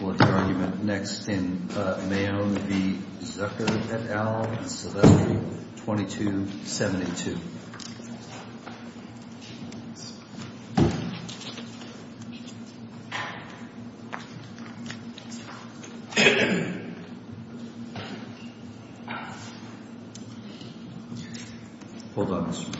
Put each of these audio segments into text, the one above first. What's your argument next in Mayo v. Zucker et al., Sylvester v. 2272? Hold on a second.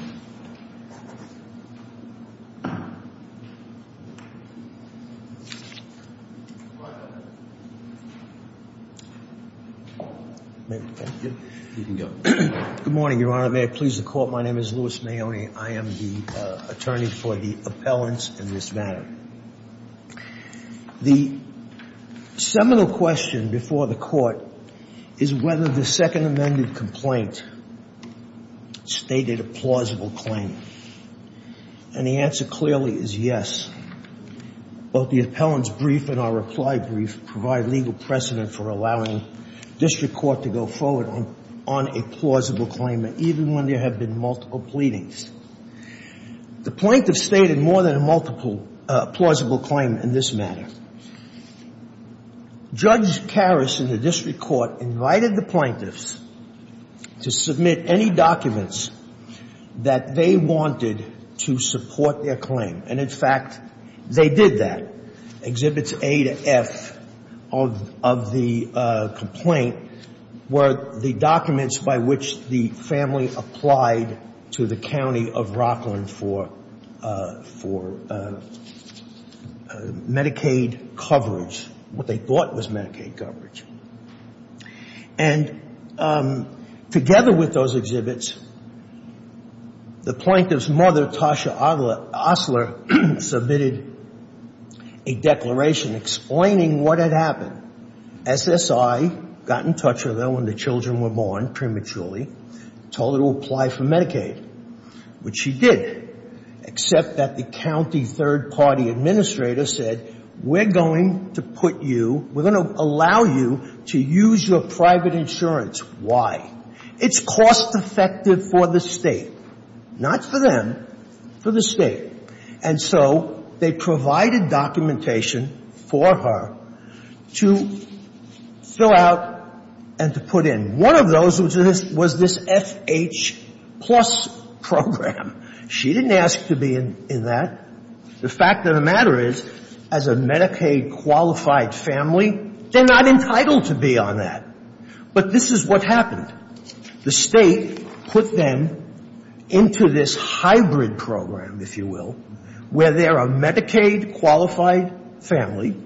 Good morning, Your Honor. May it please the Court, my name is Louis Maone. I am the attorney for the appellants in this matter. The seminal question before the Court is whether the Second Amendment complaint stated a plausible claim. And the answer clearly is yes. Both the appellant's brief and our reply brief provide legal precedent for allowing District Court to go forward on a plausible claim, even when there have been multiple pleadings. The plaintiffs stated more than a multiple plausible claim in this matter. Judge Karras in the District Court invited the plaintiffs to submit any documents that they wanted to support their claim. And, in fact, they did that. Exhibits A to F of the complaint were the documents by which the family applied to the county of Rockland for Medicaid coverage, what they thought was Medicaid coverage. And together with those exhibits, the plaintiff's mother, Tasha Osler, submitted a declaration explaining what had happened. SSI got in touch with her when the children were born prematurely, told her to apply for Medicaid, which she did, except that the county third-party administrator said, we're going to put you, we're going to allow you to use your private insurance. Why? It's cost-effective for the State. Not for them, for the State. And so they provided documentation for her to fill out and to put in. One of those was this FH Plus program. She didn't ask to be in that. The fact of the matter is, as a Medicaid-qualified family, they're not entitled to be on that. But this is what happened. The State put them into this hybrid program, if you will, where they're a Medicaid-qualified family.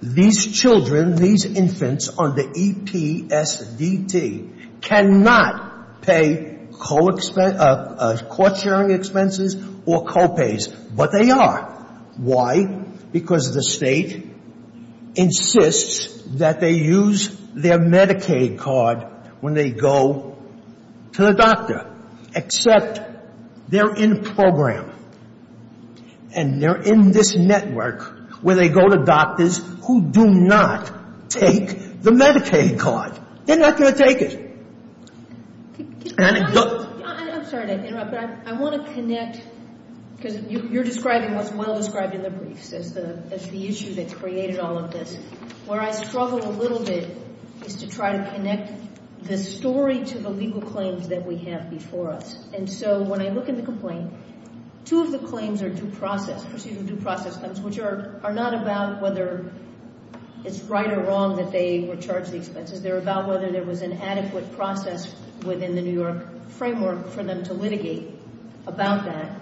These children, these infants under EPSDT cannot pay court-sharing expenses or co-pays, but they are. Why? Because the State insists that they use their Medicaid card when they go to the doctor, except they're in a program and they're in this network where they go to doctors who do not take the Medicaid card. They're not going to take it. I'm sorry to interrupt, but I want to connect, because you're describing what's well-described in the briefs as the issue that created all of this. Where I struggle a little bit is to try to connect the story to the legal claims that we have before us. And so when I look at the complaint, two of the claims are due process, procedural due process claims, which are not about whether it's right or wrong that they were charged the expenses. They're about whether there was an adequate process within the New York framework for them to litigate about that.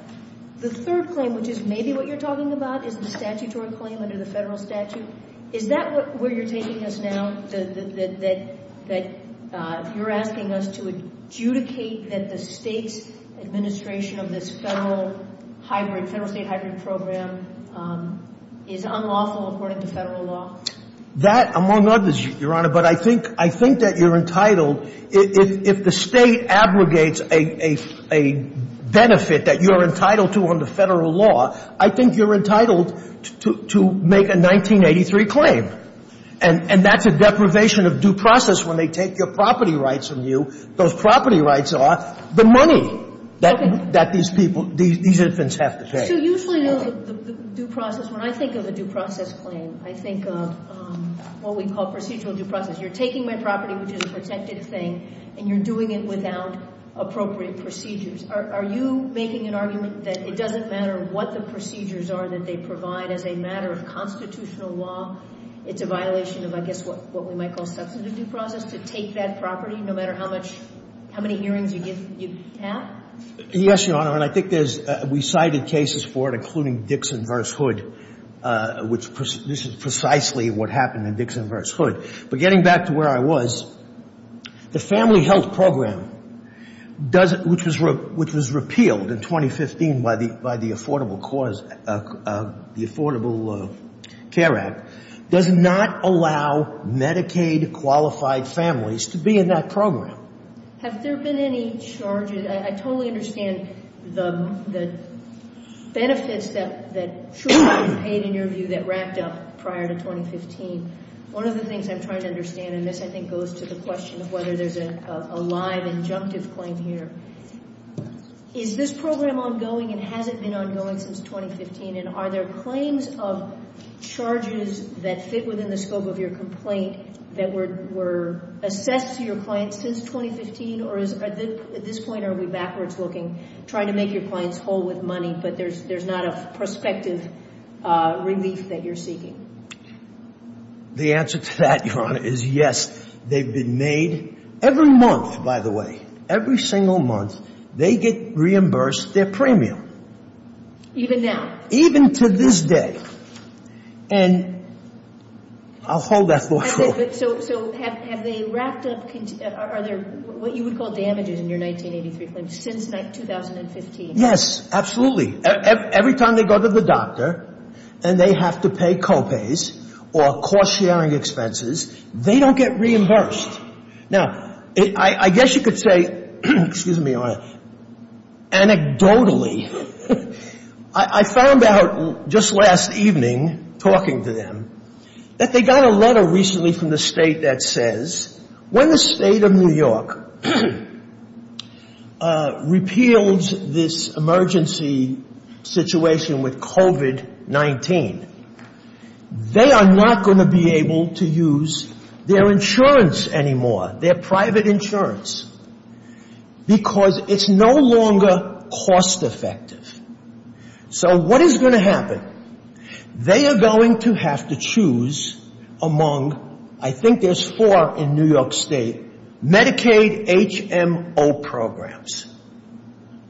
The third claim, which is maybe what you're talking about, is the statutory claim under the federal statute. Is that where you're taking us now, that you're asking us to adjudicate that the State's administration of this federal-state hybrid program is unlawful according to federal law? That, among others, Your Honor, but I think that you're entitled, if the State abrogates a benefit that you're entitled to under federal law, I think you're entitled to make a 1983 claim. And that's a deprivation of due process when they take your property rights from you. Those property rights are the money that these people, these infants have to pay. So usually the due process, when I think of a due process claim, I think of what we call procedural due process. You're taking my property, which is a protected thing, and you're doing it without appropriate procedures. Are you making an argument that it doesn't matter what the procedures are that they provide as a matter of constitutional law? It's a violation of, I guess, what we might call substantive due process to take that property, no matter how much – how many hearings you have? Yes, Your Honor, and I think there's – we cited cases for it, including Dixon v. Hood, which this is precisely what happened in Dixon v. Hood. But getting back to where I was, the Family Health Program, which was repealed in 2015 by the Affordable Care Act, does not allow Medicaid-qualified families to be in that program. So have there been any charges – I totally understand the benefits that should have been paid, in your view, that racked up prior to 2015. One of the things I'm trying to understand, and this I think goes to the question of whether there's a live injunctive claim here, is this program ongoing and has it been ongoing since 2015, and are there claims of charges that fit within the scope of your complaint that were assessed to your clients since 2015, or at this point are we backwards looking, trying to make your clients whole with money, but there's not a prospective relief that you're seeking? The answer to that, Your Honor, is yes. They've been made – every month, by the way, every single month, they get reimbursed their premium. Even now? Even to this day. And I'll hold that thought for a moment. So have they racked up – are there what you would call damages in your 1983 claim since 2015? Yes, absolutely. Every time they go to the doctor and they have to pay co-pays or cost-sharing expenses, they don't get reimbursed. Now, I guess you could say – excuse me, Your Honor – anecdotally, I found out just last evening, talking to them, that they got a letter recently from the state that says when the state of New York repeals this emergency situation with COVID-19, they are not going to be able to use their insurance anymore, their private insurance, because it's no longer cost-effective. So what is going to happen? They are going to have to choose among – I think there's four in New York State – Medicaid HMO programs.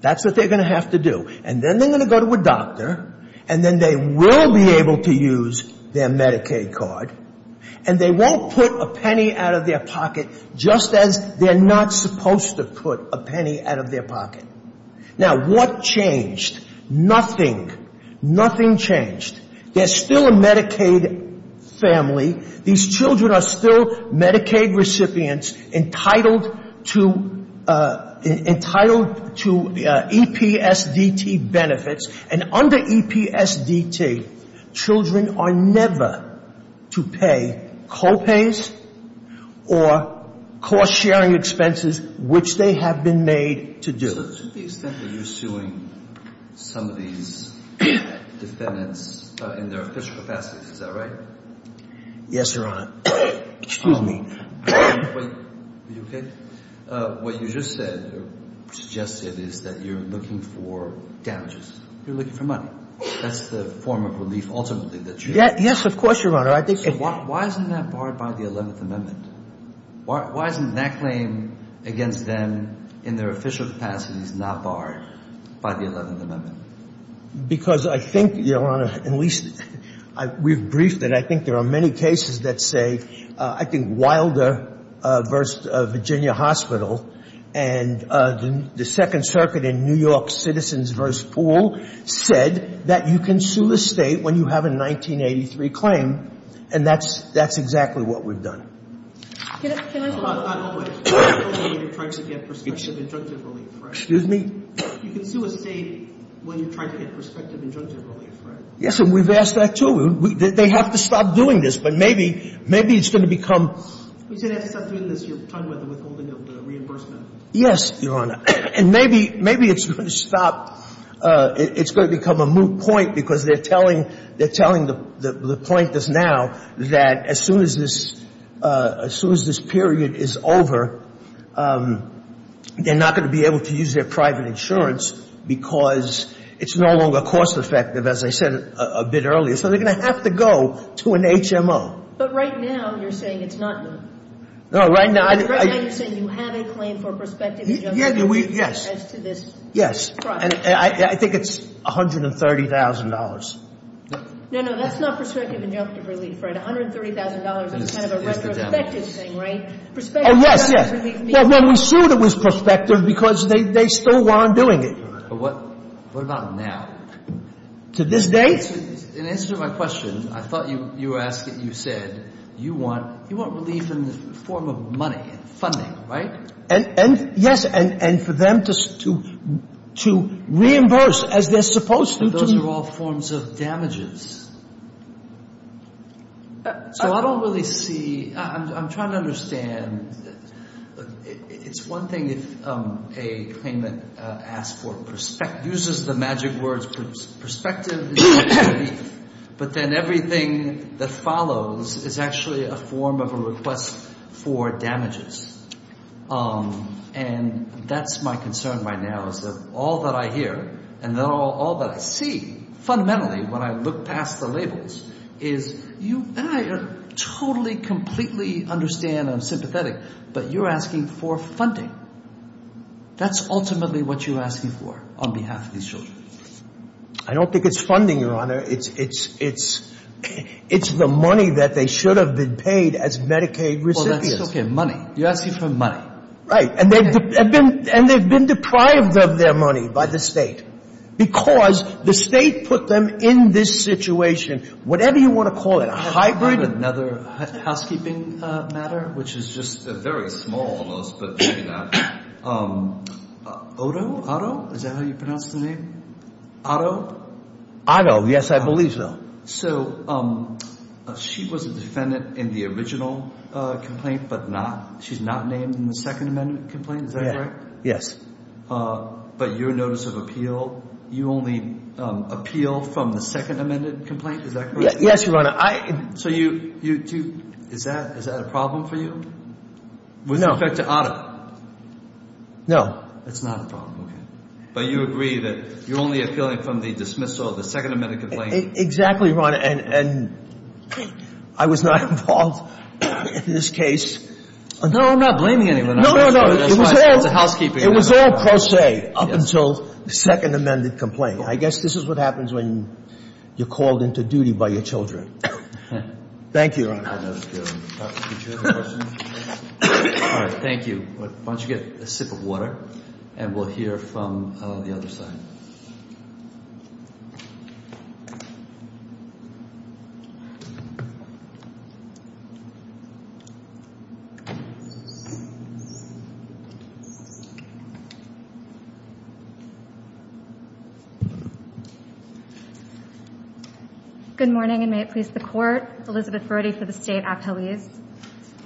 That's what they're going to have to do. And then they're going to go to a doctor, and then they will be able to use their Medicaid card, and they won't put a penny out of their pocket just as they're not supposed to put a penny out of their pocket. Now, what changed? Nothing. Nothing changed. They're still a Medicaid family. These children are still Medicaid recipients entitled to EPSDT benefits. And under EPSDT, children are never to pay co-pays or cost-sharing expenses, which they have been made to do. So to the extent that you're suing some of these defendants in their official capacities, is that right? Yes, Your Honor. Excuse me. Are you okay? What you just said or suggested is that you're looking for damages. You're looking for money. That's the form of relief ultimately that you're – Yes, of course, Your Honor. Why isn't that barred by the 11th Amendment? Why isn't that claim against them in their official capacities not barred by the 11th Amendment? Because I think, Your Honor, at least we've briefed it. I think there are many cases that say – I think Wilder v. Virginia Hospital and the Second Circuit in New York Citizens v. Poole said that you can sue a state when you have a 1983 claim, and that's exactly what we've done. Can I – Not always. You can sue a state when you're trying to get prospective injunctive relief, right? Excuse me? You can sue a state when you're trying to get prospective injunctive relief, right? Yes, and we've asked that, too. They have to stop doing this, but maybe it's going to become – You said they have to stop doing this, your time with the withholding of the reimbursement. Yes, Your Honor. And maybe it's going to stop – it's going to become a moot point because they're telling – they're telling us now that as soon as this – as soon as this period is over, they're not going to be able to use their private insurance because it's no longer cost-effective, as I said a bit earlier. So they're going to have to go to an HMO. But right now you're saying it's not – No, right now – Right now you're saying you have a claim for prospective injunctive relief as to this project. Yes, yes, and I think it's $130,000. No, no, that's not prospective injunctive relief, right? $130,000 is kind of a retrospective thing, right? Prospective injunctive relief means – Oh, yes, yes. Well, we sued it was prospective because they still weren't doing it. But what about now? To this day? In answer to my question, I thought you were asking – you said you want relief in the form of money, funding, right? And, yes, and for them to reimburse as they're supposed to. But those are all forms of damages. So I don't really see – I'm trying to understand. It's one thing if a claimant asks for – uses the magic words prospective injunctive relief, but then everything that follows is actually a form of a request for damages. And that's my concern right now is that all that I hear and all that I see fundamentally when I look past the labels is you – and I totally, completely understand and I'm sympathetic, but you're asking for funding. That's ultimately what you're asking for on behalf of these children. I don't think it's funding, Your Honor. It's the money that they should have been paid as Medicaid recipients. Okay, money. You're asking for money. Right. And they've been deprived of their money by the state because the state put them in this situation. Whatever you want to call it, a hybrid – I have another housekeeping matter, which is just a very small one, but maybe not. Otto? Is that how you pronounce the name? Otto? Otto, yes, I believe so. So she was a defendant in the original complaint, but not – she's not named in the second amendment complaint. Is that correct? Yes. But your notice of appeal, you only appeal from the second amended complaint. Is that correct? Yes, Your Honor. So you – is that a problem for you? No. With respect to Otto? No. It's not a problem, okay. But you agree that you're only appealing from the dismissal of the second amended complaint? Exactly, Your Honor. And I was not involved in this case. No, I'm not blaming anyone. No, no, no. That's fine. It's a housekeeping matter. It was all pro se up until the second amended complaint. I guess this is what happens when you're called into duty by your children. Thank you, Your Honor. All right, thank you. Why don't you get a sip of water, and we'll hear from the other side. Thank you. Good morning, and may it please the Court. Elizabeth Brody for the State Appellees.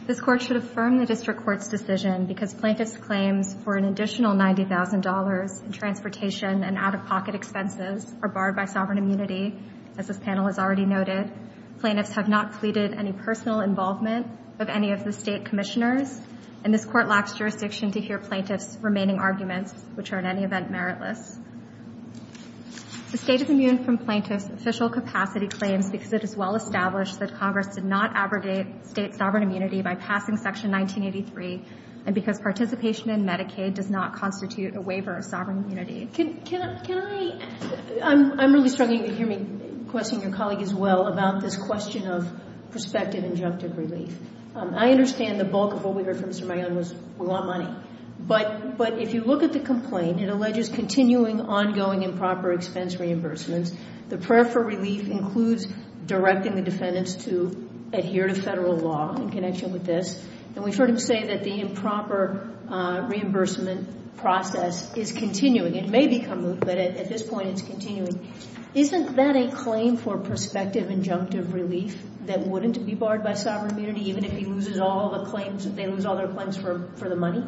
This Court should affirm the District Court's decision because plaintiffs' claims for an additional $90,000 in transportation and out-of-pocket expenses are barred by sovereign immunity, as this panel has already noted. Plaintiffs have not pleaded any personal involvement of any of the State Commissioners, and this Court lacks jurisdiction to hear plaintiffs' remaining arguments, which are in any event meritless. The State is immune from plaintiffs' official capacity claims because it is well established that Congress did not abrogate State sovereign immunity by passing Section 1983, and because participation in Medicaid does not constitute a waiver of sovereign immunity. I'm really struggling to hear me question your colleague as well about this question of prospective injunctive relief. I understand the bulk of what we heard from Mr. Mayon was we want money, but if you look at the complaint, it alleges continuing ongoing improper expense reimbursements. The prayer for relief includes directing the defendants to adhere to Federal law in connection with this, and we've heard him say that the improper reimbursement process is continuing. It may become moot, but at this point it's continuing. Isn't that a claim for prospective injunctive relief that wouldn't be barred by sovereign immunity, even if he loses all the claims, if they lose all their claims for the money?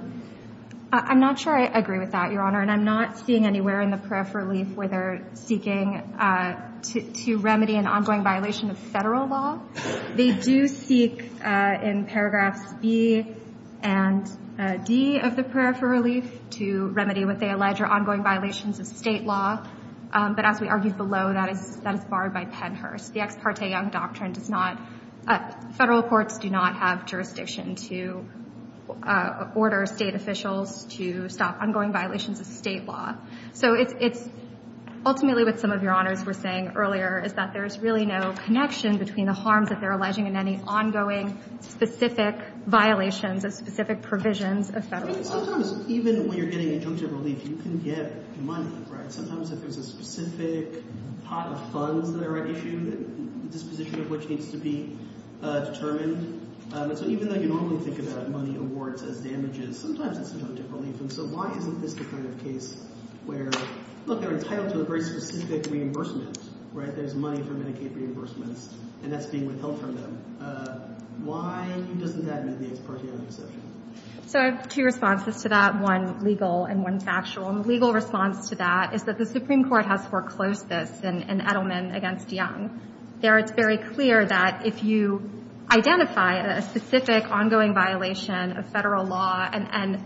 I'm not sure I agree with that, Your Honor, and I'm not seeing anywhere in the prayer for relief where they're seeking to remedy an ongoing violation of Federal law. They do seek in paragraphs B and D of the prayer for relief to remedy what they allege are ongoing violations of State law, but as we argued below, that is barred by Pennhurst. The Ex parte Young Doctrine does not, Federal courts do not have jurisdiction to order State officials to stop ongoing violations of State law. So it's ultimately what some of Your Honors were saying earlier, is that there's really no connection between the harms that they're alleging and any ongoing specific violations of specific provisions of Federal law. Sometimes even when you're getting injunctive relief, you can get money, right? Sometimes if there's a specific pot of funds that are at issue, disposition of which needs to be determined. So even though you normally think about money awards as damages, sometimes it's injunctive relief. And so why isn't this the kind of case where, look, they're entitled to a very specific reimbursement, right? There's money for Medicaid reimbursements, and that's being withheld from them. Why doesn't that make the Ex parte Young exception? So I have two responses to that, one legal and one factual. And the legal response to that is that the Supreme Court has foreclosed this in Edelman against Young. There, it's very clear that if you identify a specific ongoing violation of Federal law and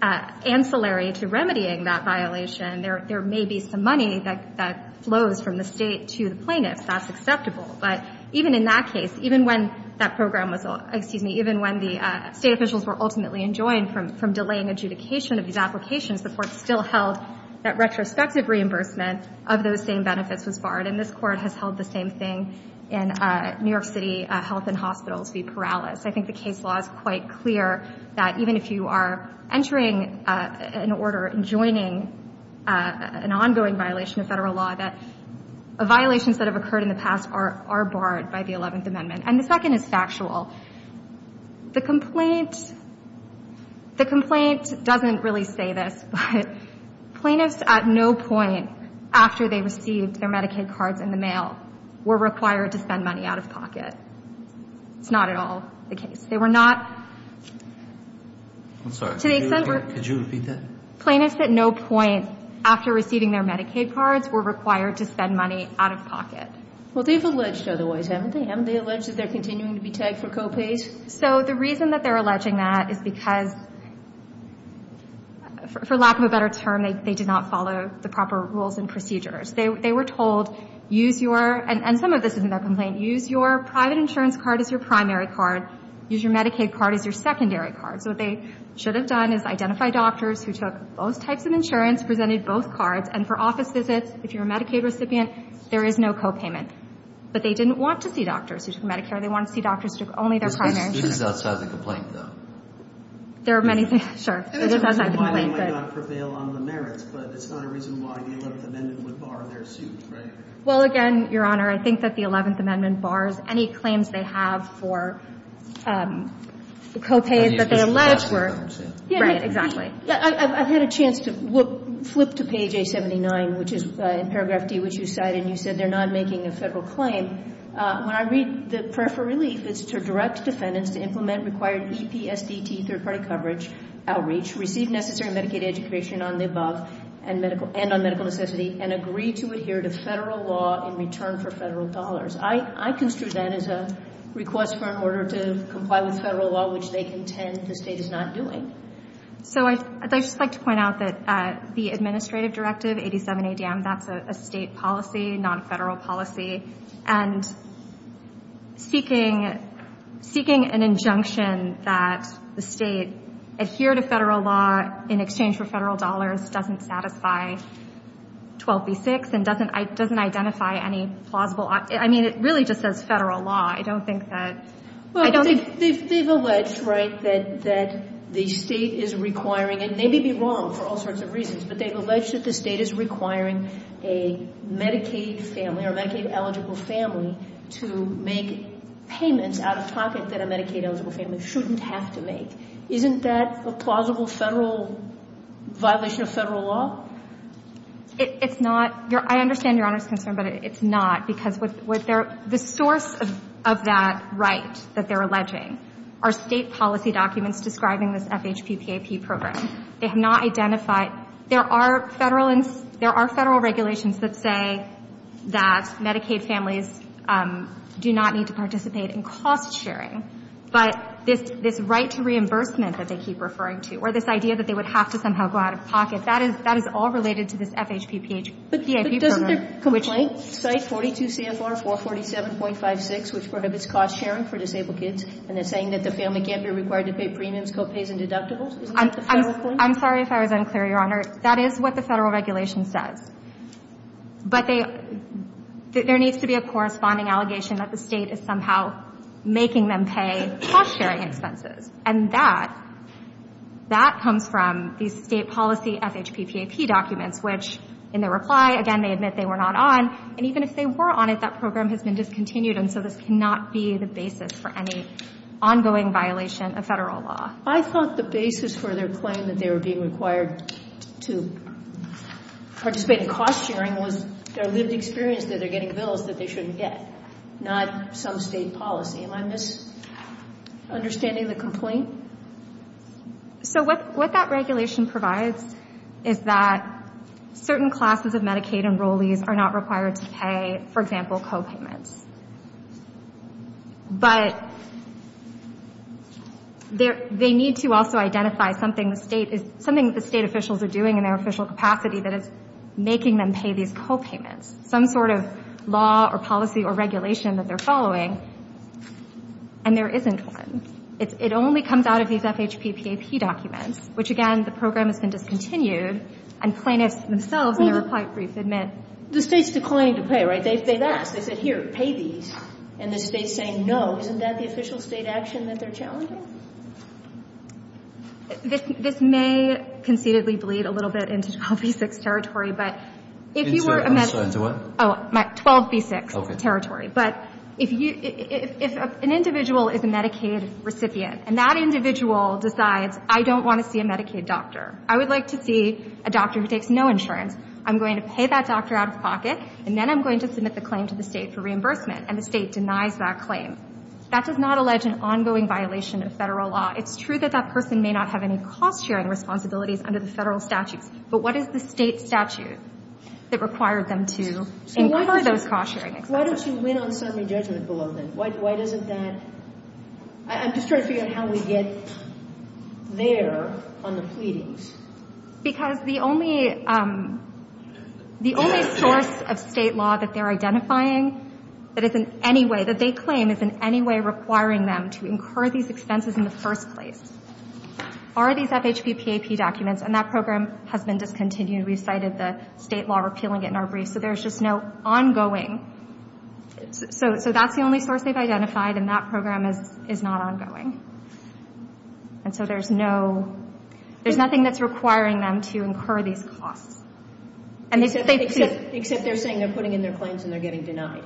ancillary to remedying that violation, there may be some money that flows from the State to the plaintiffs. That's acceptable. But even in that case, even when that program was, excuse me, even when the State officials were ultimately enjoined from delaying adjudication of these applications, the Court still held that retrospective reimbursement of those same benefits was barred. And this Court has held the same thing in New York City Health and Hospitals v. Perales. I think the case law is quite clear that even if you are entering an order enjoining an ongoing violation of Federal law, that violations that have occurred in the past are barred by the Eleventh Amendment. And the second is factual. The complaint doesn't really say this, but plaintiffs at no point after they received their Medicaid cards in the mail were required to spend money out of pocket. It's not at all the case. They were not. I'm sorry. Could you repeat that? Plaintiffs at no point after receiving their Medicaid cards were required to spend money out of pocket. Well, they've alleged otherwise, haven't they? They allege that they're continuing to be tagged for copays. So the reason that they're alleging that is because, for lack of a better term, they did not follow the proper rules and procedures. They were told, use your – and some of this is in their complaint – use your private insurance card as your primary card. Use your Medicaid card as your secondary card. So what they should have done is identify doctors who took both types of insurance, presented both cards, and for office visits, if you're a Medicaid recipient, there is no copayment. But they didn't want to see doctors who took Medicare. They wanted to see doctors who took only their primary insurance. This is outside the complaint, though. There are many things – sure. It's outside the complaint, but – And it's a reason why it might not prevail on the merits, but it's not a reason why the Eleventh Amendment would bar their suit, right? Well, again, Your Honor, I think that the Eleventh Amendment bars any claims they have for copays that they allege were – Right. Exactly. I've had a chance to flip to page A79, which is in paragraph D, which you cited. You said they're not making a Federal claim. When I read the prayer for relief, it's to direct defendants to implement required EPSDT third-party coverage, outreach, receive necessary Medicaid education on the above and on medical necessity, and agree to adhere to Federal law in return for Federal dollars. I construe that as a request for an order to comply with Federal law, which they contend the State is not doing. So I'd just like to point out that the administrative directive, 87 ADM, that's a State policy, non-Federal policy. And seeking an injunction that the State adhere to Federal law in exchange for Federal dollars doesn't satisfy 12b-6 and doesn't identify any plausible – I mean, it really just says Federal law. I don't think that – Well, they've alleged, right, that the State is requiring – and they may be wrong for all sorts of reasons, but they've alleged that the State is requiring a Medicaid family or Medicaid-eligible family to make payments out of pocket that a Medicaid-eligible family shouldn't have to make. Isn't that a plausible Federal – violation of Federal law? It's not. I understand Your Honor's concern, but it's not, because what they're – the source of that right that they're alleging are State policy documents describing this FHPPAP program. They have not identified – there are Federal – there are Federal regulations that say that Medicaid families do not need to participate in cost-sharing, but this right to reimbursement that they keep referring to, or this idea that they would have to somehow go out of pocket, that is – that is all related to this FHPPAP program. But doesn't their complaint cite 42 CFR 447.56, which prohibits cost-sharing for disabled kids, and it's saying that the family can't be required to pay premiums, co-pays, and deductibles? Isn't that the Federal complaint? I'm sorry if I was unclear, Your Honor. That is what the Federal regulation says. But they – there needs to be a corresponding allegation that the State is somehow making them pay cost-sharing expenses. And that – that comes from the State policy FHPPAP documents, which in their reply, again, they admit they were not on. And even if they were on it, that program has been discontinued, and so this cannot be the basis for any ongoing violation of Federal law. I thought the basis for their claim that they were being required to participate in cost-sharing was their lived experience that they're getting bills that they shouldn't get, not some State policy. Understanding the complaint? So what that regulation provides is that certain classes of Medicaid enrollees are not required to pay, for example, co-payments. But they need to also identify something the State – something that the State officials are doing in their official capacity that is making them pay these co-payments. Some sort of law or policy or regulation that they're following and there isn't one. It only comes out of these FHPPAP documents, which, again, the program has been discontinued, and plaintiffs themselves in their reply brief admit – Well, the State's declining to pay, right? They've asked. They said, here, pay these. And the State's saying no. Isn't that the official State action that they're challenging? This may conceitedly bleed a little bit into 12b-6 territory, but if you were – I'm sorry. I'm sorry. Into what? Oh, 12b-6 territory. But if an individual is a Medicaid recipient and that individual decides, I don't want to see a Medicaid doctor. I would like to see a doctor who takes no insurance. I'm going to pay that doctor out of pocket, and then I'm going to submit the claim to the State for reimbursement. And the State denies that claim. That does not allege an ongoing violation of Federal law. It's true that that person may not have any cost-sharing responsibilities under the Federal statutes, but what is the State statute that required them to incur those cost-sharing expenses? Why don't you win on summary judgment below then? Why doesn't that – I'm just trying to figure out how we get there on the pleadings. Because the only source of State law that they're identifying that is in any way – that they claim is in any way requiring them to incur these expenses in the first place are these FHBPAP documents. And that program has been discontinued. We've cited the State law repealing it in our briefs. So there's just no ongoing – so that's the only source they've identified, and that program is not ongoing. And so there's no – there's nothing that's requiring them to incur these costs. Except they're saying they're putting in their claims and they're getting denied.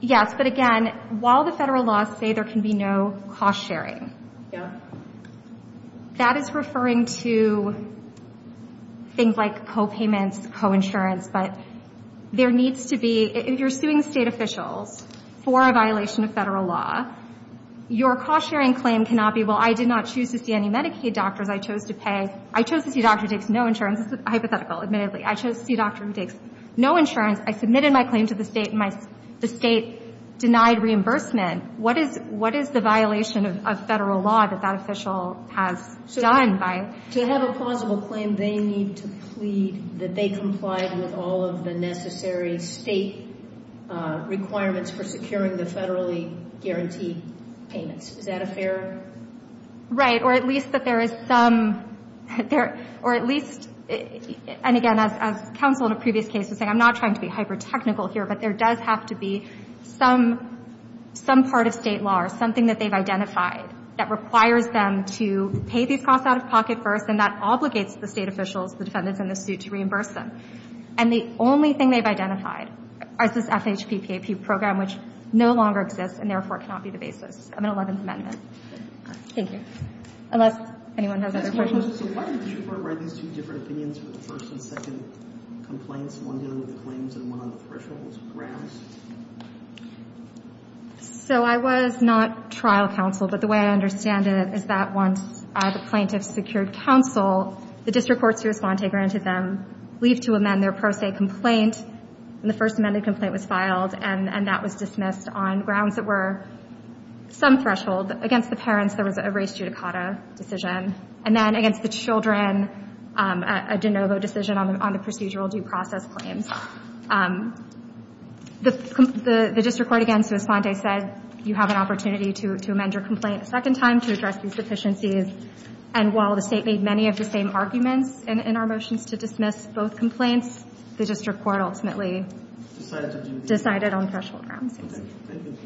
Yes, but again, while the Federal laws say there can be no cost-sharing, that is referring to things like copayments, coinsurance. But there needs to be – if you're suing State officials for a violation of Federal law, your cost-sharing claim cannot be, well, I did not choose to see any Medicaid doctors. I chose to pay – I chose to see a doctor who takes no insurance. This is hypothetical, admittedly. I chose to see a doctor who takes no insurance. I submitted my claim to the State, and the State denied reimbursement. What is the violation of Federal law that that official has done by – To have a plausible claim, they need to plead that they complied with all of the necessary State requirements for securing the Federally guaranteed payments. Is that a fair – Right. Or at least that there is some – or at least – and again, as counsel in a previous case was saying, I'm not trying to be hyper-technical here, but there does have to be some part of State law or something that they've identified that requires them to pay these costs out of pocket first, and that obligates the State officials, the defendants in the suit, to reimburse them. And the only thing they've identified is this FHPPAP program, which no longer exists, and therefore cannot be the basis of an Eleventh Amendment. Thank you. Unless anyone has other questions. So why did you provide these two different opinions for the first and second complaints, one dealing with the claims and one on the thresholds grounds? So I was not trial counsel, but the way I understand it is that once the plaintiffs secured counsel, the district courts who responded granted them leave to amend their pro se complaint, and the First Amendment complaint was filed, and that was dismissed on grounds that were some threshold. Against the parents, there was a race judicata decision. And then against the children, a de novo decision on the procedural due process claims. The district court, again, to respond, they said, you have an opportunity to amend your complaint a second time to address these deficiencies. And while the State made many of the same arguments in our motions to dismiss both complaints, the district court ultimately decided on threshold grounds. Thank you.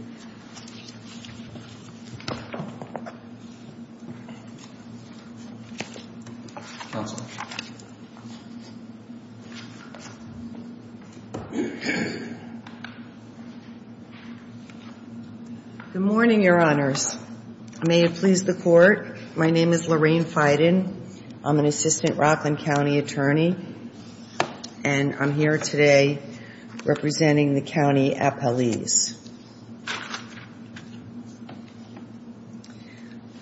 Counsel. Good morning, Your Honors. May it please the Court. My name is Lorraine Feiden. I'm an assistant Rockland County attorney. And I'm here today representing the county appellees.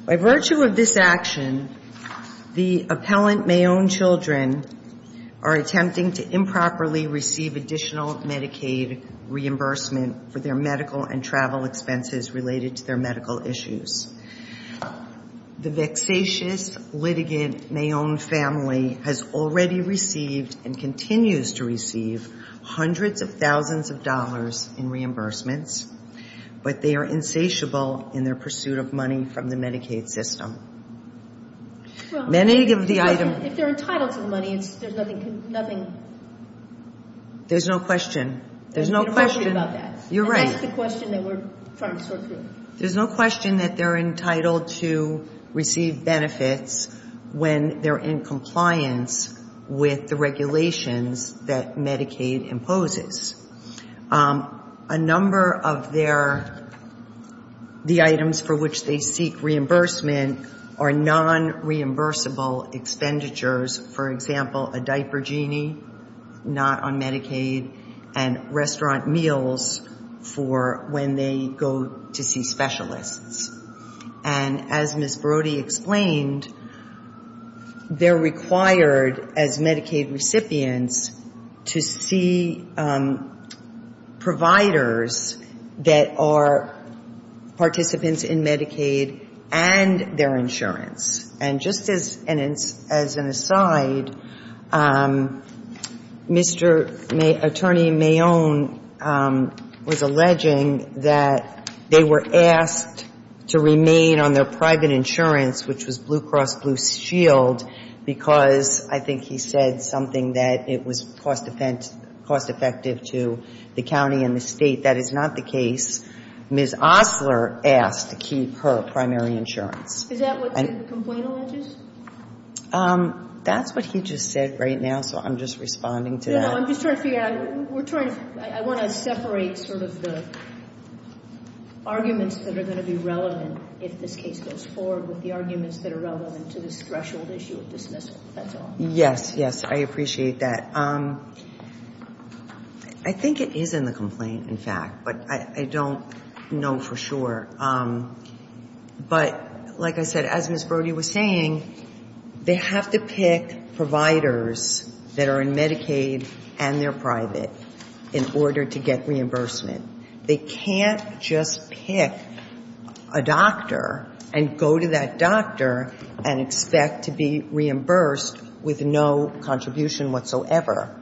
By virtue of this action, the appellant Mayon children are attempting to improperly receive additional Medicaid reimbursement for their medical and travel expenses related to their medical issues. The vexatious litigant Mayon family has already received and continues to receive hundreds of thousands of dollars in reimbursements, but they are insatiable in their pursuit of money from the Medicaid system. Many of the items. If they're entitled to the money, there's nothing. There's no question. There's no question. There's no question about that. You're right. That's the question that we're trying to sort through. There's no question that they're entitled to receive benefits when they're in compliance with the regulations that Medicaid imposes. A number of their, the items for which they seek reimbursement are non-reimbursable expenditures. For example, a diaper genie, not on Medicaid, and restaurant meals for when they go to see specialists. And as Ms. Brody explained, they're required as Medicaid recipients to see providers that are participants in Medicaid and their insurance. And just as an aside, Mr. Attorney Mayon was alleging that they were asked to remain on their private insurance, which was Blue Cross Blue Shield, because I think he said something that it was cost effective to the county and the state. That is not the case. Ms. Osler asked to keep her primary insurance. Is that what the complaint alleges? That's what he just said right now, so I'm just responding to that. No, no. I'm just trying to figure out. We're trying to, I want to separate sort of the arguments that are going to be relevant if this case goes forward with the arguments that are relevant to this threshold issue of dismissal. That's all. Yes, yes. I appreciate that. I think it is in the complaint, in fact, but I don't know for sure. But like I said, as Ms. Brody was saying, they have to pick providers that are in Medicaid and they're private in order to get reimbursement. They can't just pick a doctor and go to that doctor and expect to be reimbursed with no contribution whatsoever.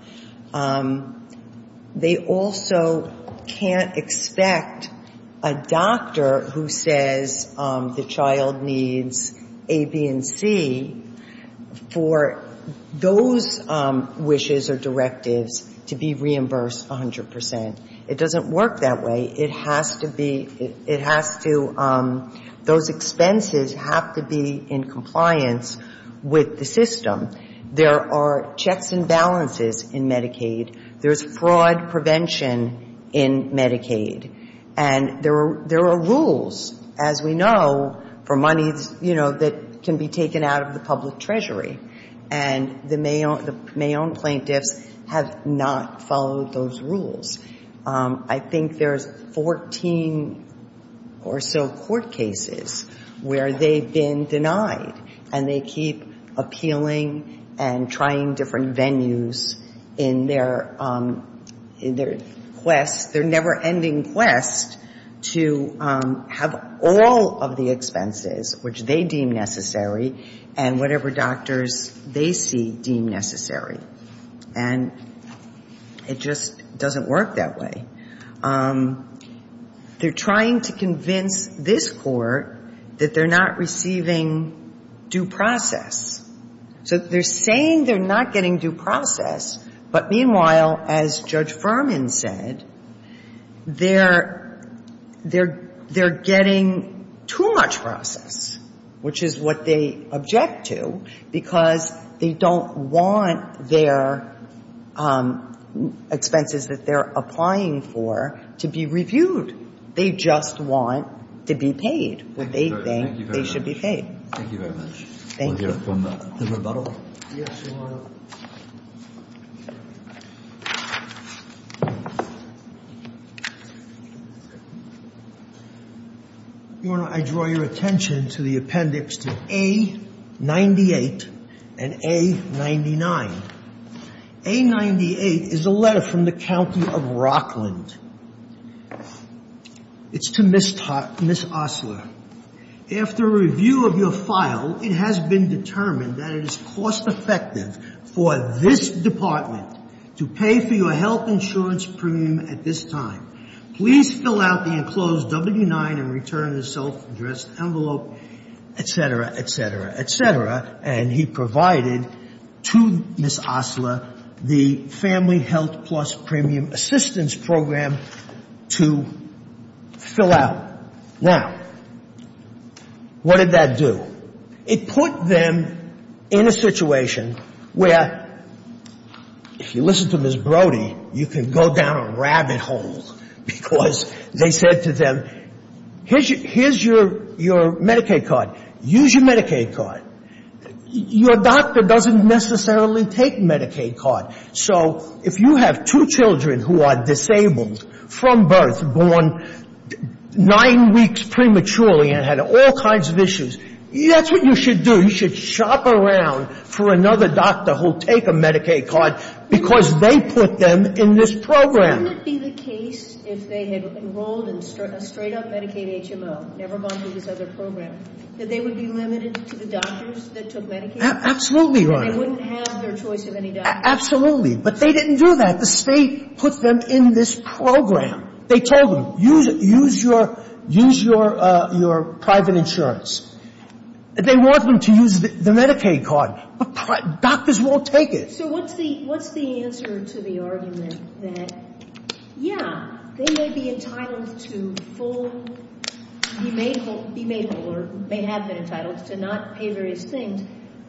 They also can't expect a doctor who says the child needs A, B, and C for those wishes or directives to be reimbursed 100%. It doesn't work that way. It has to be, it has to, those expenses have to be in compliance with the system. There are checks and balances in Medicaid. There's fraud prevention in Medicaid. And there are rules, as we know, for money, you know, that can be taken out of the public treasury. And the Mayon plaintiffs have not followed those rules. I think there's 14 or so court cases where they've been denied and they keep appealing and trying different venues in their, in their quest, their never-ending quest to have all of the expenses which they deem necessary and whatever doctors they see deem necessary. And it just doesn't work that way. They're trying to convince this Court that they're not receiving due process. So they're saying they're not getting due process, but meanwhile, as Judge Furman said, they're, they're, they're getting too much process, which is what they object to, because they don't want their expenses that they're applying for to be reviewed. They just want to be paid what they think they should be paid. Thank you very much. Thank you. I'm going to draw your attention to the appendix to A-98 and A-99. A-98 is a letter from the County of Rockland. It's to Ms. Osler. Now, what did that do? It put them in a situation where, if you listen to Ms. Brody, you could go down a rabbit hole, because they said to them, here's your, here's your Medicaid card. Use your Medicaid card. Your doctor doesn't necessarily take Medicaid card. So if you have two children who are disabled from birth, born nine weeks prematurely and had all kinds of issues, that's what you should do. You should shop around for another doctor who will take a Medicaid card, because they put them in this program. Wouldn't it be the case if they had enrolled in a straight-up Medicaid HMO, never gone through this other program, that they would be limited to the doctor? Absolutely, Your Honor. They wouldn't have their choice of any doctor. Absolutely. But they didn't do that. The State put them in this program. They told them, use your private insurance. They want them to use the Medicaid card, but doctors won't take it. So what's the answer to the argument that, yeah, they may be entitled to full, be made whole, or may have been entitled to not pay various things,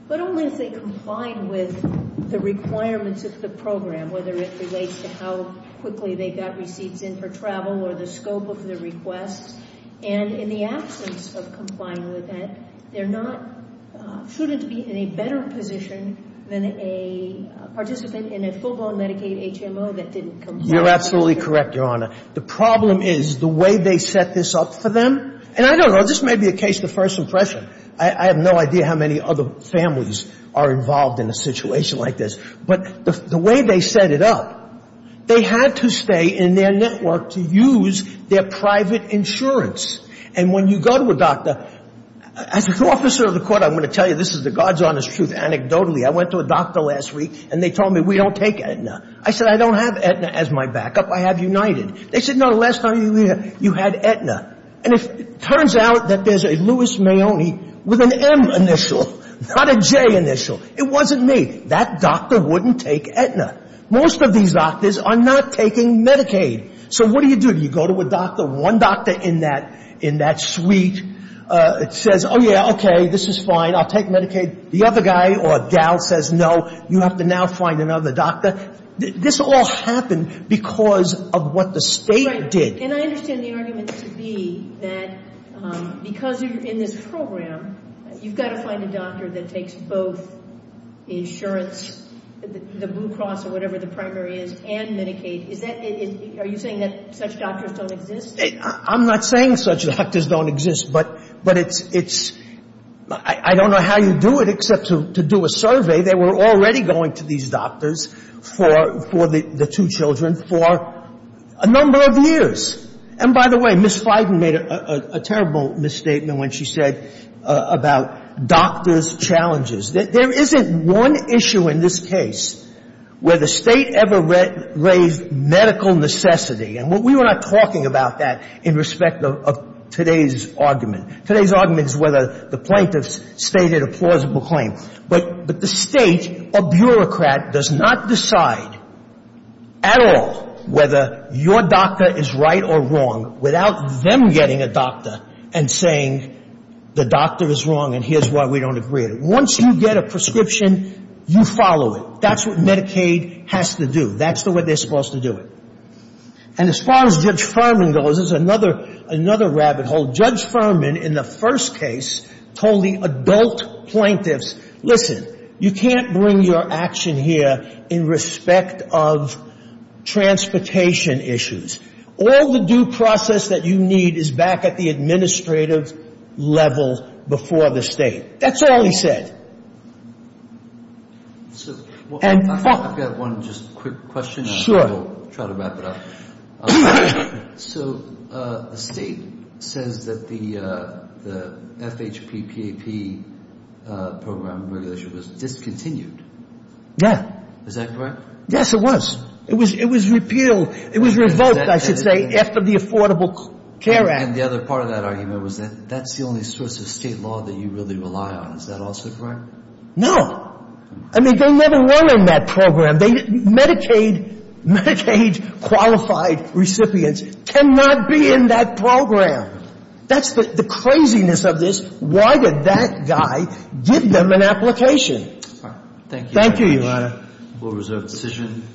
but only if they comply with the requirements of the program, whether it relates to how quickly they got receipts in for travel or the scope of the request, and in the absence of complying with the requirements. So the argument is that they're not, shouldn't be in a better position than a participant in a full-blown Medicaid HMO that didn't comply. You're absolutely correct, Your Honor. The problem is the way they set this up for them, and I don't know, this may be a case of first impression. I have no idea how many other families are involved in a situation like this, but the way they set it up, they had to stay in their network to use their private insurance. And when you go to a doctor, as an officer of the court, I'm going to tell you this is the God's honest truth. Anecdotally, I went to a doctor last week, and they told me, we don't take Aetna. I said, I don't have Aetna as my backup. I have United. They said, no, the last time you were here, you had Aetna. And it turns out that there's a Louis Mahoney with an M initial, not a J initial. It wasn't me. That doctor wouldn't take Aetna. Most of these doctors are not taking Medicaid. So what do you do? You go to a doctor, one doctor in that suite says, oh, yeah, okay, this is fine, I'll take Medicaid. The other guy or gal says, no, you have to now find another doctor. This all happened because of what the State did. And I understand the argument to be that because you're in this program, you've got to find a doctor that takes both insurance, the Blue Cross or whatever the primary is, and Medicaid. Are you saying that such doctors don't exist? I'm not saying such doctors don't exist, but it's ‑‑ I don't know how you do it except to do a survey. They were already going to these doctors for the two children for a number of years. And by the way, Ms. Feigin made a terrible misstatement when she said about doctors' challenges. There isn't one issue in this case where the State ever raised medical necessity. And we were not talking about that in respect of today's argument. Today's argument is whether the plaintiffs stated a plausible claim. But the State, a bureaucrat, does not decide at all whether your doctor is right or wrong without them getting a doctor and saying the doctor is wrong and here's why we don't agree. Once you get a prescription, you follow it. That's what Medicaid has to do. That's the way they're supposed to do it. And as far as Judge Furman goes, there's another rabbit hole. Judge Furman, in the first case, told the adult plaintiffs, listen, you can't bring your action here in respect of transportation issues. All the due process that you need is back at the administrative level before the State. That's all he said. I've got one just quick question. Sure. I'll try to wrap it up. So the State says that the FHPPAP program regulation was discontinued. Yeah. Is that correct? Yes, it was. It was repealed. It was revoked, I should say, after the Affordable Care Act. And the other part of that argument was that that's the only source of State law that you really rely on. Is that also correct? No. I mean, they never were in that program. Medicaid qualified recipients cannot be in that program. That's the craziness of this. Why would that guy give them an application? Thank you. Thank you, Your Honor. We'll reserve the decision.